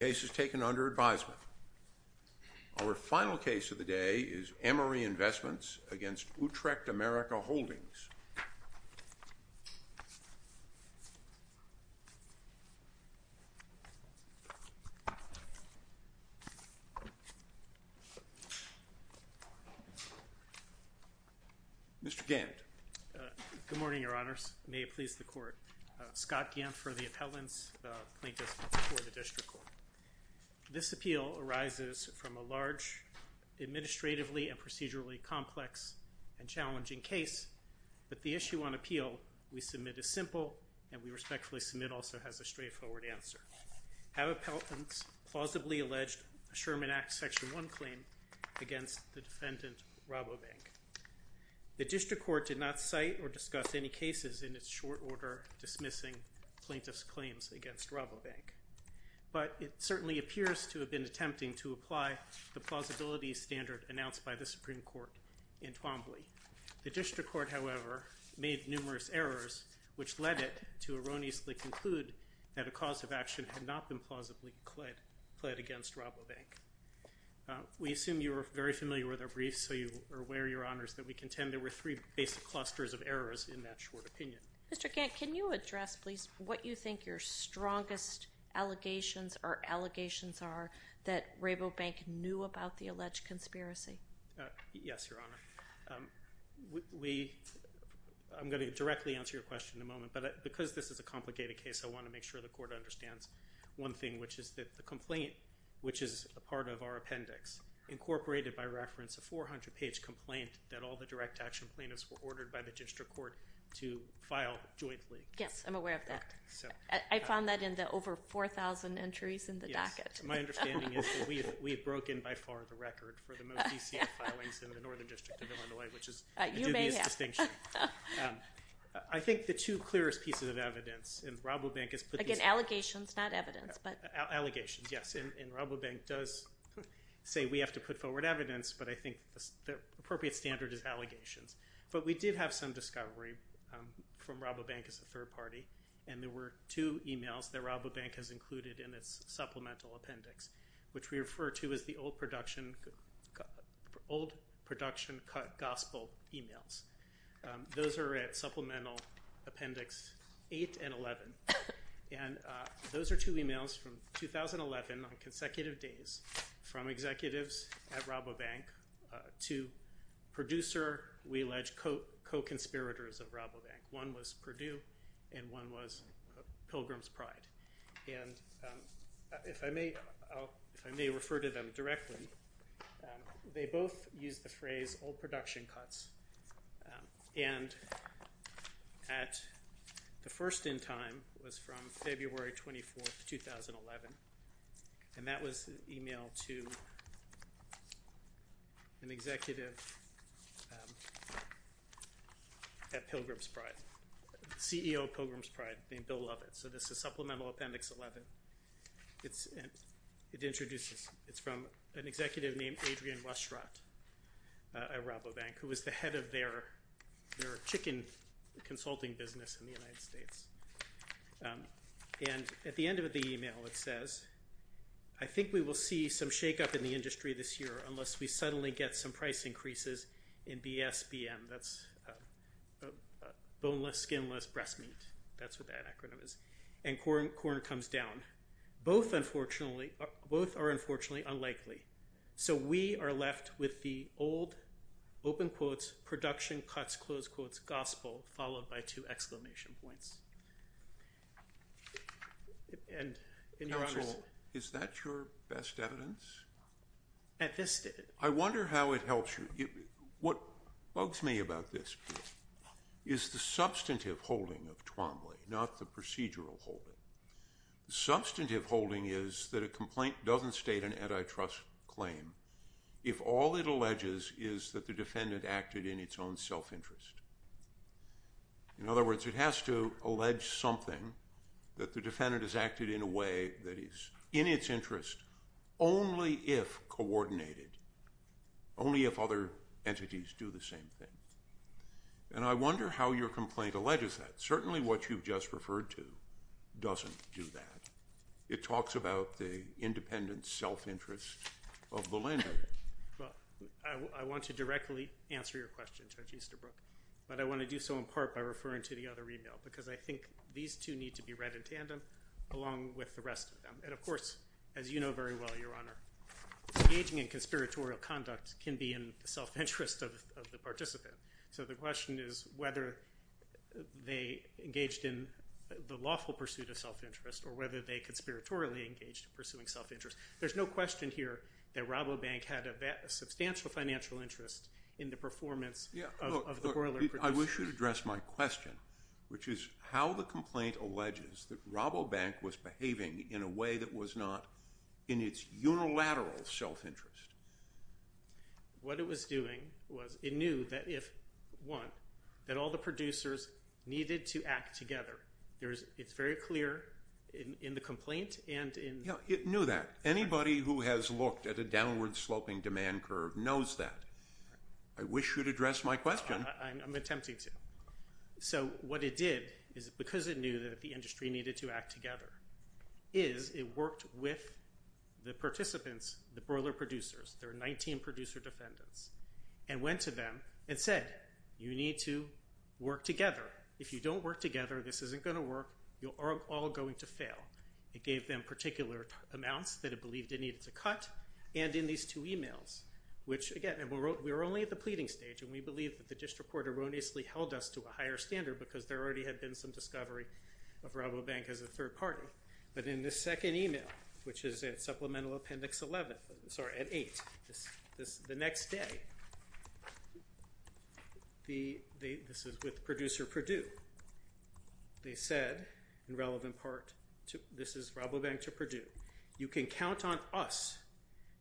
The case is taken under advisement. Our final case of the day is Emory Investments against Utrecht-America Holdings. Mr. Gant. Good morning, Your Honors. May it please the Court. Scott Gant for the appellants, plaintiffs for the District Court. This appeal arises from a large, administratively and procedurally complex and challenging case, but the issue on appeal we submit is simple and we respectfully submit also has a straightforward answer. Have appellants plausibly alleged a Sherman Act Section 1 claim against the defendant Rabobank? The District Court did not cite or discuss any cases in its short order dismissing plaintiffs' claims against Rabobank, but it certainly appears to have been attempting to apply the plausibility standard announced by the Supreme Court in Twombly. The District Court, however, made numerous errors, which led it to erroneously conclude that a cause of action had not been plausibly pled against Rabobank. We assume you are very familiar with our briefs, so you are aware, Your Honors, that we contend there were three basic clusters of errors in that short opinion. Mr. Gant, can you address, please, what you think your strongest allegations or allegations are that Rabobank knew about the alleged conspiracy? Yes, Your Honor. We, I'm going to directly answer your question in a moment, but because this is a complicated case, I want to make sure the Court understands one thing, which is that the complaint, which is a part of our appendix, incorporated by reference a 400-page complaint that all the direct action plaintiffs were ordered by the District Court to file jointly. Yes, I'm aware of that. I found that in the over 4,000 entries in the docket. Yes, my understanding is that we have broken by far the record for the most DCF filings in the Northern District of Illinois, which is a dubious distinction. You may have. I think the two clearest pieces of evidence, and Rabobank has put these— Again, allegations, not evidence, but— It does say we have to put forward evidence, but I think the appropriate standard is allegations. But we did have some discovery from Rabobank as a third party, and there were two emails that Rabobank has included in its supplemental appendix, which we refer to as the old production gospel emails. Those are at Supplemental Appendix 8 and 11. And those are two emails from 2011 on consecutive days from executives at Rabobank to producer, we allege, co-conspirators of Rabobank. One was Purdue, and one was Pilgrim's Pride. And if I may refer to them directly, they both use the phrase old production cuts. And the first in time was from February 24, 2011. And that was an email to an executive at Pilgrim's Pride, CEO of Pilgrim's Pride named Bill Lovett. So this is Supplemental Appendix 11. It introduces—it's from an executive named Adrian Westratt at Rabobank, who was the head of their chicken consulting business in the United States. And at the end of the email, it says, I think we will see some shakeup in the industry this year unless we suddenly get some price increases in BSBM. That's boneless, skinless breast meat. That's what that acronym is. And corn comes down. Both, unfortunately—both are, unfortunately, unlikely. So we are left with the old, open quotes, production cuts, close quotes, gospel, followed by two exclamation points. And in your honors— Counsel, is that your best evidence? At this— I wonder how it helps you. What bugs me about this is the substantive holding of Twombly, not the procedural holding. The substantive holding is that a complaint doesn't state an antitrust claim if all it alleges is that the defendant acted in its own self-interest. In other words, it has to allege something that the defendant has acted in a way that only if coordinated, only if other entities do the same thing. And I wonder how your complaint alleges that. Certainly what you've just referred to doesn't do that. It talks about the independent self-interest of the lender. Well, I want to directly answer your question, Judge Easterbrook, but I want to do so in part by referring to the other email because I think these two need to be read in tandem along with the rest of them. And of course, as you know very well, your honor, engaging in conspiratorial conduct can be in the self-interest of the participant. So the question is whether they engaged in the lawful pursuit of self-interest or whether they conspiratorially engaged in pursuing self-interest. There's no question here that Rabobank had a substantial financial interest in the performance of the boiler producer. I wish you'd address my question, which is how the complaint alleges that Rabobank was in a way that was not in its unilateral self-interest. What it was doing was it knew that if, one, that all the producers needed to act together. It's very clear in the complaint and in – Yeah, it knew that. Anybody who has looked at a downward-sloping demand curve knows that. I wish you'd address my question. I'm attempting to. So what it did is because it knew that the industry needed to act together is it worked with the participants, the boiler producers, their 19 producer defendants, and went to them and said, you need to work together. If you don't work together, this isn't going to work. You're all going to fail. It gave them particular amounts that it believed it needed to cut and in these two emails, which, again, we were only at the pleading stage and we believe that the district court erroneously held us to a higher standard because there already had been some discovery of Rabobank as a third party. But in this second email, which is at supplemental appendix 11 – sorry, at 8, the next day, this is with producer Purdue. They said, in relevant part, this is Rabobank to Purdue. You can count on us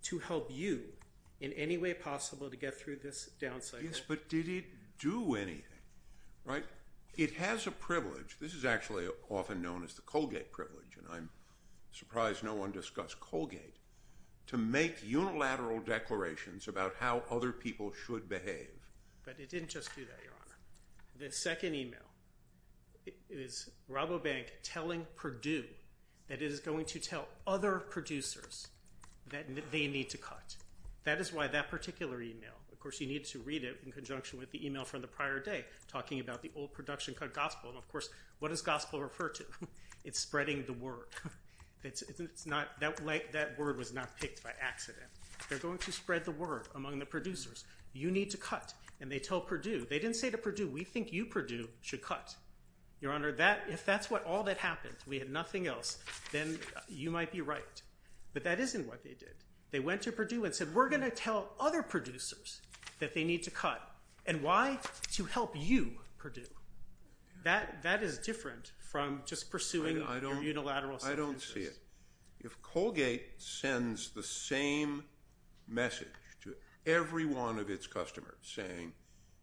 to help you in any way possible to get through this downside. Yes, but did it do anything, right? It has a privilege. This is actually often known as the Colgate privilege and I'm surprised no one discussed Colgate to make unilateral declarations about how other people should behave. But it didn't just do that, Your Honor. The second email is Rabobank telling Purdue that it is going to tell other producers that they need to cut. That is why that particular email – of course, you need to read it in conjunction with the email from the prior day talking about the old production cut gospel. And of course, what does gospel refer to? It's spreading the word. That word was not picked by accident. They're going to spread the word among the producers. You need to cut. And they tell Purdue. They didn't say to Purdue, we think you, Purdue, should cut. Your Honor, if that's all that happened, we had nothing else, then you might be right. But that isn't what they did. They went to Purdue and said, we're going to tell other producers that they need to cut. And why? To help you, Purdue. That is different from just pursuing unilateral sentences. I don't see it. If Colgate sends the same message to every one of its customers saying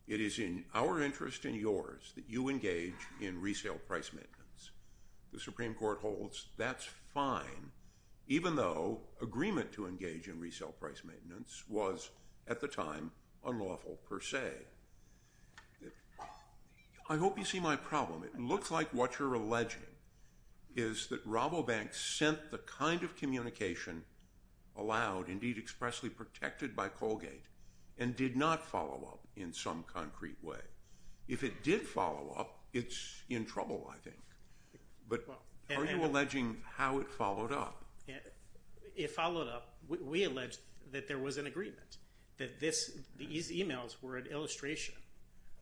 it is in our interest and yours that you engage in resale price maintenance, the Supreme Court holds that's even though agreement to engage in resale price maintenance was, at the time, unlawful per se. I hope you see my problem. It looks like what you're alleging is that Rabobank sent the kind of communication allowed, indeed expressly protected by Colgate, and did not follow up in some concrete way. If it did follow up, it's in trouble, I think. Are you alleging how it followed up? It followed up. We allege that there was an agreement, that these emails were an illustration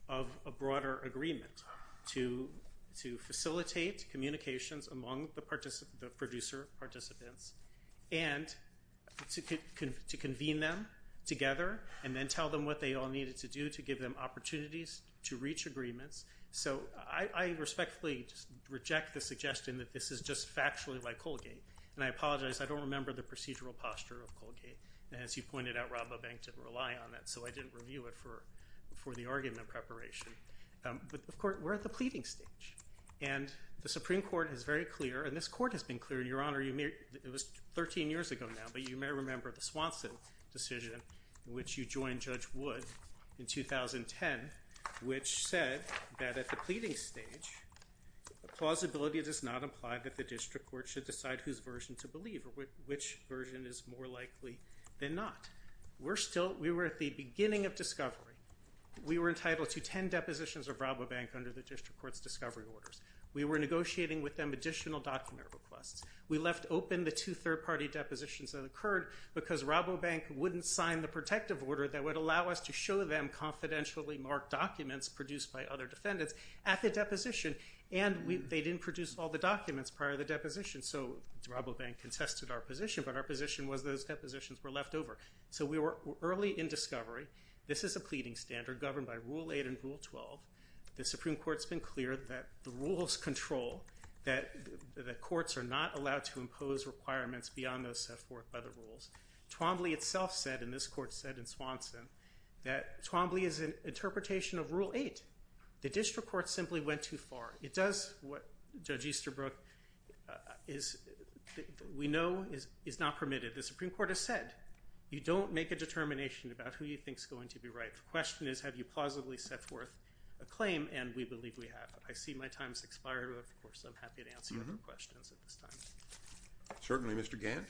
of a broader agreement to facilitate communications among the producer participants and to convene them together and then tell them what they all needed to do to give them opportunities to reach agreements. I respectfully reject the suggestion that this is just factually by Colgate. I apologize. I don't remember the procedural posture of Colgate. As you pointed out, Rabobank didn't rely on that, so I didn't review it for the argument preparation. Of course, we're at the pleading stage. The Supreme Court is very clear, and this court has been clear, Your Honor. It was 13 years ago now, but you may remember the Swanson decision in which you joined Judge that at the pleading stage, the plausibility does not imply that the district court should decide whose version to believe or which version is more likely than not. We were at the beginning of discovery. We were entitled to 10 depositions of Rabobank under the district court's discovery orders. We were negotiating with them additional document requests. We left open the two third-party depositions that occurred because Rabobank wouldn't sign the protective order that would allow us to show them confidentially marked documents produced by other defendants at the deposition, and they didn't produce all the documents prior to the deposition, so Rabobank contested our position, but our position was those depositions were left over. So we were early in discovery. This is a pleading standard governed by Rule 8 and Rule 12. The Supreme Court's been clear that the rules control, that the courts are not allowed to impose requirements beyond those set forth by the rules. Twombly itself said, and this court said in Swanson, that Twombly is an interpretation of Rule 8. The district court simply went too far. It does what Judge Easterbrook is, we know is not permitted. The Supreme Court has said, you don't make a determination about who you think is going to be right. The question is have you plausibly set forth a claim, and we believe we have. I see my time has expired, but of course I'm happy to answer your questions at this time. Certainly, Mr. Gant.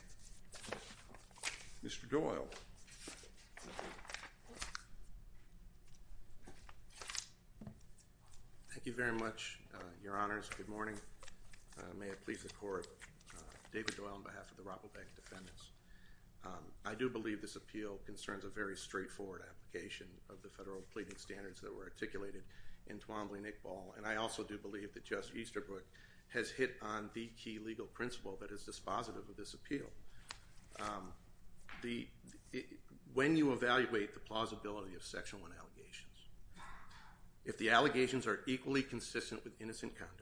Mr. Doyle. Thank you very much, Your Honors. Good morning. May it please the Court. David Doyle on behalf of the Rabobank defendants. I do believe this appeal concerns a very straightforward application of the federal pleading standards that were articulated in Twombly-Nickball, and I also do believe that Judge Easterbrook has hit on the key legal principle that is dispositive of this appeal. When you evaluate the plausibility of Section 1 allegations, if the allegations are equally consistent with innocent conduct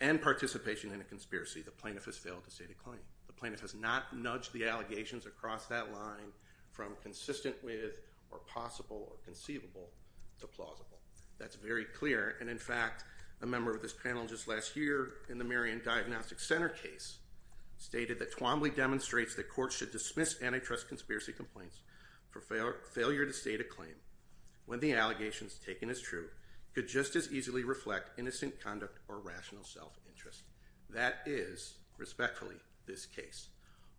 and participation in a conspiracy, the plaintiff has failed to state a claim. The plaintiff has not nudged the allegations across that line from consistent with or possible or conceivable to plausible. That's very clear, and in fact, a member of this panel just last year in the Marion Diagnostics Center case stated that Twombly demonstrates that courts should dismiss antitrust conspiracy complaints for failure to state a claim when the allegations taken as true could just as easily reflect innocent conduct or rational self-interest. That is, respectfully, this case.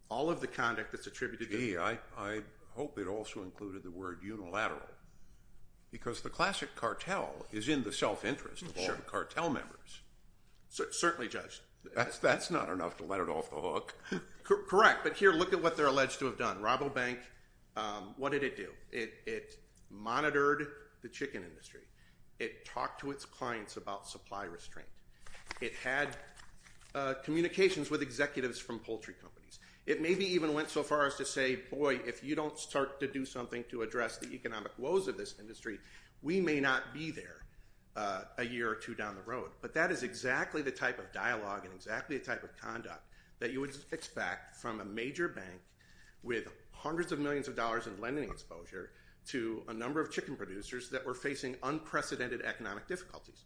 All of the conduct that's attributed to— I hope it also included the word unilateral, because the classic cartel is in the self-interest of all the cartel members. Certainly, Judge. That's not enough to let it off the hook. Correct, but here, look at what they're alleged to have done. Robobank, what did it do? It monitored the chicken industry. It talked to its clients about supply restraint. It had communications with executives from poultry companies. It maybe even went so far as to say, boy, if you don't start to do something to address the economic woes of this industry, we may not be there a year or two down the road. But that is exactly the type of dialogue and exactly the type of conduct that you would expect from a major bank with hundreds of millions of dollars in lending exposure to a number of chicken producers that were facing unprecedented economic difficulties.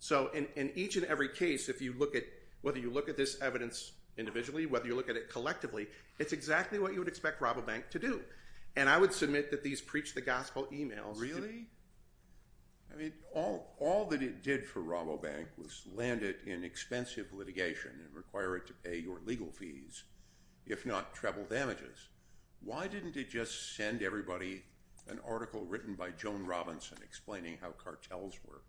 So in each and every case, if you look at—whether you look at this evidence individually, whether you look at it collectively, it's exactly what you would expect Robobank to do. And I would submit that these preach-the-gospel emails— Really? I mean, all that it did for Robobank was land it in expensive litigation and require it to pay your legal fees, if not treble damages. Why didn't it just send everybody an article written by Joan Robinson explaining how cartels work?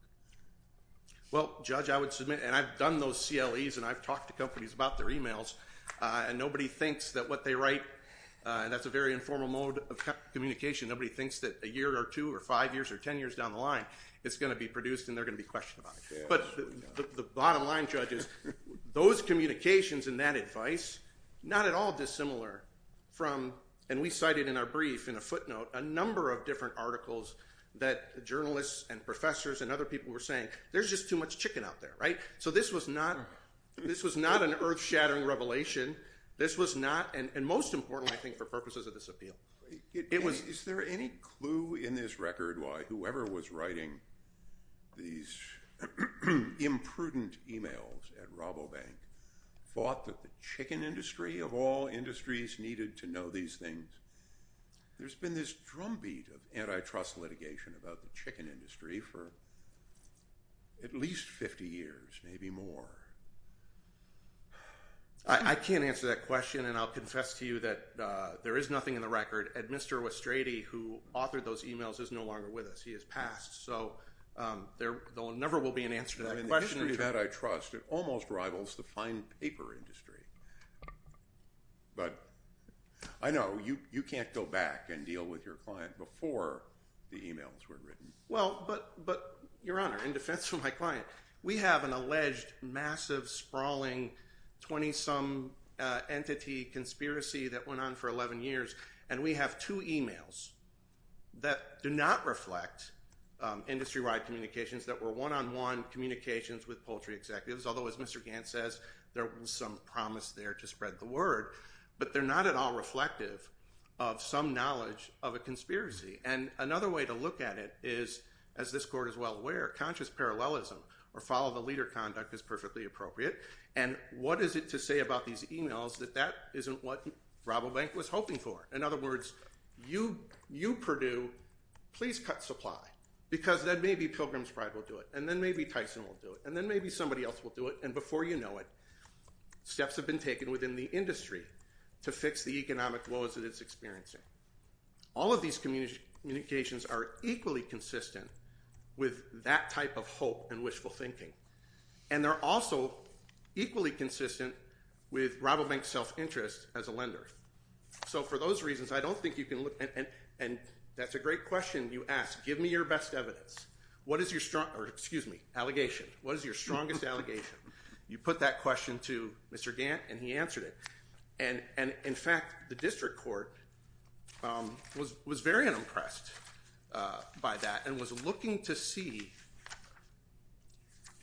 Well, Judge, I would submit—and I've done those CLEs and I've talked to companies about their emails, and nobody thinks that what they write—and that's a very informal mode of communication—nobody thinks that a year or two or five years or ten years down the line it's going to be produced and they're going to be questioned about it. But the bottom line, Judge, is those communications and that advice, not at all dissimilar from— and we cited in our brief, in a footnote, a number of different articles that journalists and professors and other people were saying, there's just too much chicken out there, right? So this was not an earth-shattering revelation. This was not—and most importantly, I think, for purposes of this appeal. Is there any clue in this record why whoever was writing these imprudent emails at Robobank thought that the chicken industry, of all industries, needed to know these things? There's been this drumbeat of antitrust litigation about the chicken industry for at least 50 years, maybe more. I can't answer that question, and I'll confess to you that there is nothing in the record. Mr. Westrady, who authored those emails, is no longer with us. He has passed, so there never will be an answer to that question. The industry that I trust almost rivals the fine paper industry. But I know you can't go back and deal with your client before the emails were written. Well, but, Your Honor, in defense of my client, we have an alleged massive, sprawling, 20-some entity conspiracy that went on for 11 years, and we have two emails that do not reflect industry-wide communications that were one-on-one communications with poultry executives, although, as Mr. Gantz says, there was some promise there to spread the word, but they're not at all reflective of some knowledge of a conspiracy. And another way to look at it is, as this Court is well aware, conscious parallelism or follow-the-leader conduct is perfectly appropriate, and what is it to say about these emails that that isn't what Robobank was hoping for? In other words, you, Purdue, please cut supply, because then maybe Pilgrim's Pride will do it, and then maybe Tyson will do it, and then maybe somebody else will do it, and before you know it, steps have been taken within the industry to fix the economic woes that it's experiencing. All of these communications are equally consistent with that type of hope and wishful thinking, and they're also equally consistent with Robobank's self-interest as a lender. So for those reasons, I don't think you can look – and that's a great question you asked. Give me your best evidence. What is your strongest – or excuse me, allegation. What is your strongest allegation? You put that question to Mr. Gantz, and he answered it. And in fact, the district court was very unimpressed by that and was looking to see,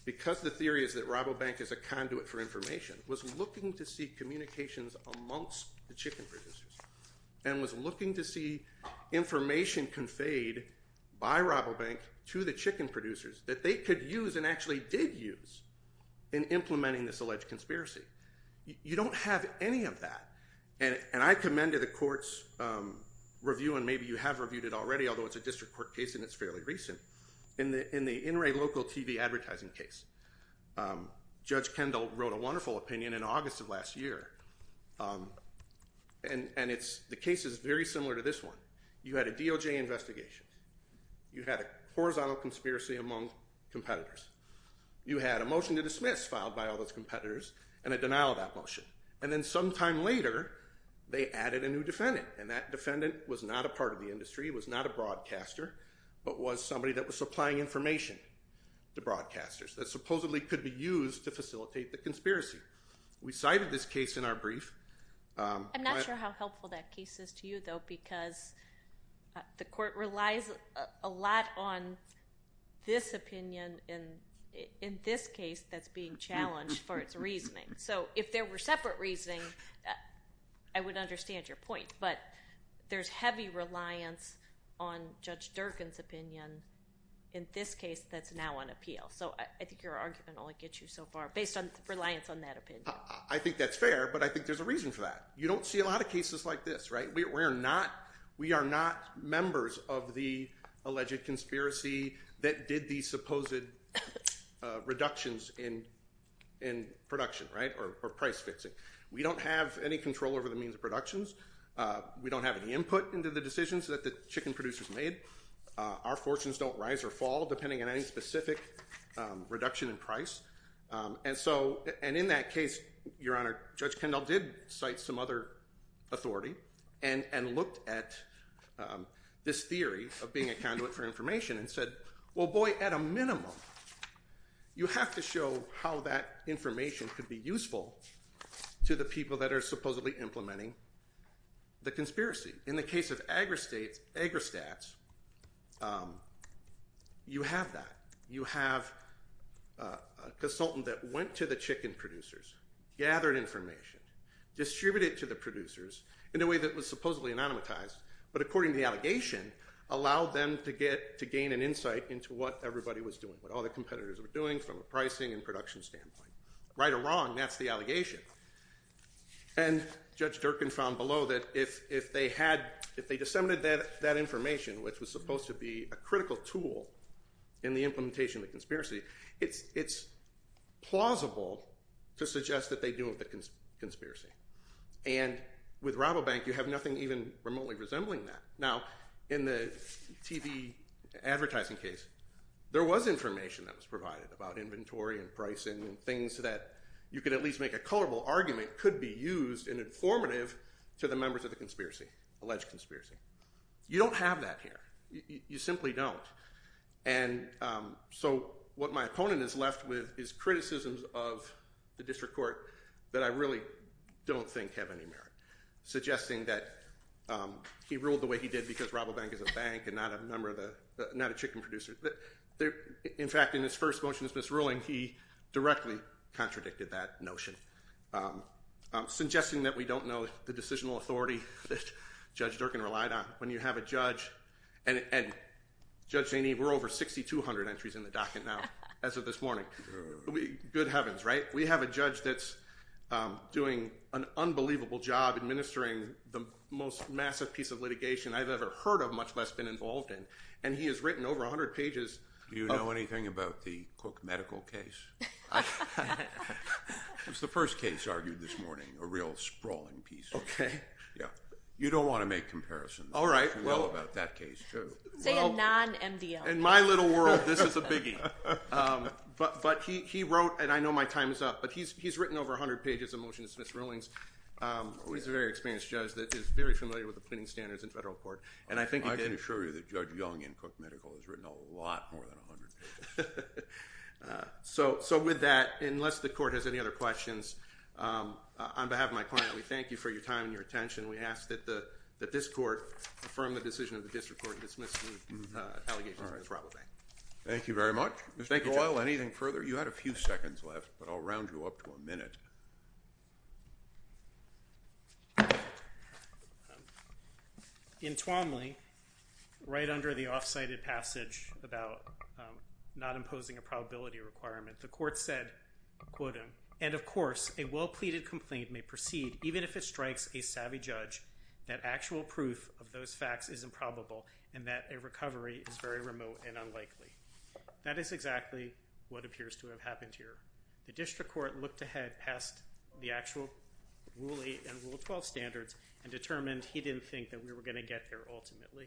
because the theory is that Robobank is a conduit for information, was looking to see communications amongst the chicken producers and was looking to see information conveyed by Robobank to the chicken producers that they could use and actually did use in implementing this alleged conspiracy. You don't have any of that, and I commended the court's review, and maybe you have reviewed it already, although it's a district court case and it's fairly recent. In the in-ray local TV advertising case, Judge Kendall wrote a wonderful opinion in August of last year, and the case is very similar to this one. You had a DOJ investigation. You had a horizontal conspiracy among competitors. You had a motion to dismiss filed by all those competitors and a denial of that motion. And then sometime later, they added a new defendant, and that defendant was not a part of the industry, was not a broadcaster, but was somebody that was supplying information to broadcasters that supposedly could be used to facilitate the conspiracy. We cited this case in our brief. I'm not sure how helpful that case is to you, though, because the court relies a lot on this opinion in this case that's being challenged for its reasoning. So if there were separate reasoning, I would understand your point, but there's heavy reliance on Judge Durkin's opinion in this case that's now on appeal. So I think your argument only gets you so far based on reliance on that opinion. I think that's fair, but I think there's a reason for that. You don't see a lot of cases like this, right? We are not members of the alleged conspiracy that did these supposed reductions in production, right, or price fixing. We don't have any control over the means of productions. We don't have any input into the decisions that the chicken producers made. Our fortunes don't rise or fall depending on any specific reduction in price. And in that case, Your Honor, Judge Kendall did cite some other authority and looked at this theory of being a conduit for information and said, well, boy, at a minimum, you have to show how that information could be useful to the people that are supposedly implementing the conspiracy. In the case of Agristats, you have that. You have a consultant that went to the chicken producers, gathered information, distributed it to the producers in a way that was supposedly anonymized, but according to the allegation, allowed them to gain an insight into what everybody was doing, what all the competitors were doing from a pricing and production standpoint. Right or wrong, that's the allegation. And Judge Durkin found below that if they disseminated that information, which was supposed to be a critical tool in the implementation of the conspiracy, it's plausible to suggest that they deal with the conspiracy. And with Rabobank, you have nothing even remotely resembling that. Now, in the TV advertising case, there was information that was provided about inventory and pricing and things that you could at least make a colorable argument could be used and informative to the members of the conspiracy, alleged conspiracy. You don't have that here. You simply don't. And so what my opponent is left with is criticisms of the district court that I really don't think have any merit, suggesting that he ruled the way he did because Rabobank is a bank and not a chicken producer. In fact, in his first motion of this ruling, he directly contradicted that notion, suggesting that we don't know the decisional authority that Judge Durkin relied on. When you have a judge, and Judge Zaney, we're over 6,200 entries in the docket now as of this morning. Good heavens, right? We have a judge that's doing an unbelievable job administering the most massive piece of litigation I've ever heard of, much less been involved in, and he has written over 100 pages. Do you know anything about the Cook medical case? It was the first case argued this morning, a real sprawling piece. Okay. Yeah. You don't want to make comparisons. All right. You know about that case, too. Say a non-MDL case. In my little world, this is a biggie. But he wrote, and I know my time is up, but he's written over 100 pages of motion to dismiss rulings. He's a very experienced judge that is very familiar with the pleading standards in federal court, and I think he did. I can assure you that Judge Young in Cook Medical has written a lot more than 100 pages. So with that, unless the court has any other questions, on behalf of my client, we thank you for your time and your attention. We ask that this court affirm the decision of the district court to dismiss the allegations of defraud. Thank you very much. Mr. Doyle, anything further? You had a few seconds left, but I'll round you up to a minute. In Twomley, right under the off-cited passage about not imposing a probability requirement, the court said, quote, and of course, a well-pleaded complaint may proceed even if it strikes a savvy judge that actual proof of those facts is improbable and that a recovery is very remote and unlikely. That is exactly what appears to have happened here. The district court looked ahead past the actual Rule 8 and Rule 12 standards and determined he didn't think that we were going to get there ultimately.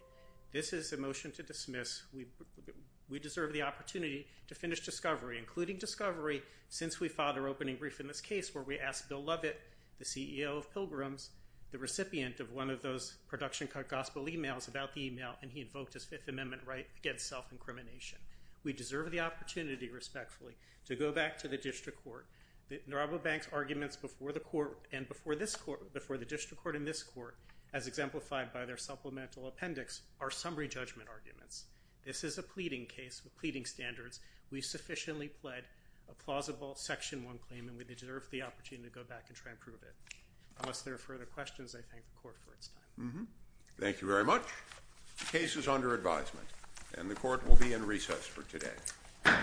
This is a motion to dismiss. We deserve the opportunity to finish discovery, including discovery since we filed our opening brief in this case where we asked Bill Lovett, the CEO of Pilgrims, the recipient of one of those production-cut gospel emails about the email, and he invoked his Fifth Amendment right against self-incrimination. We deserve the opportunity, respectfully, to go back to the district court. Narobo Bank's arguments before the court and before this court, before the district court and this court, as exemplified by their supplemental appendix, are summary judgment arguments. This is a pleading case with pleading standards. We sufficiently pled a plausible Section 1 claim, and we deserve the opportunity to go back and try and prove it. Unless there are further questions, I thank the court for its time. Thank you very much. The case is under advisement, and the court will be in recess for today.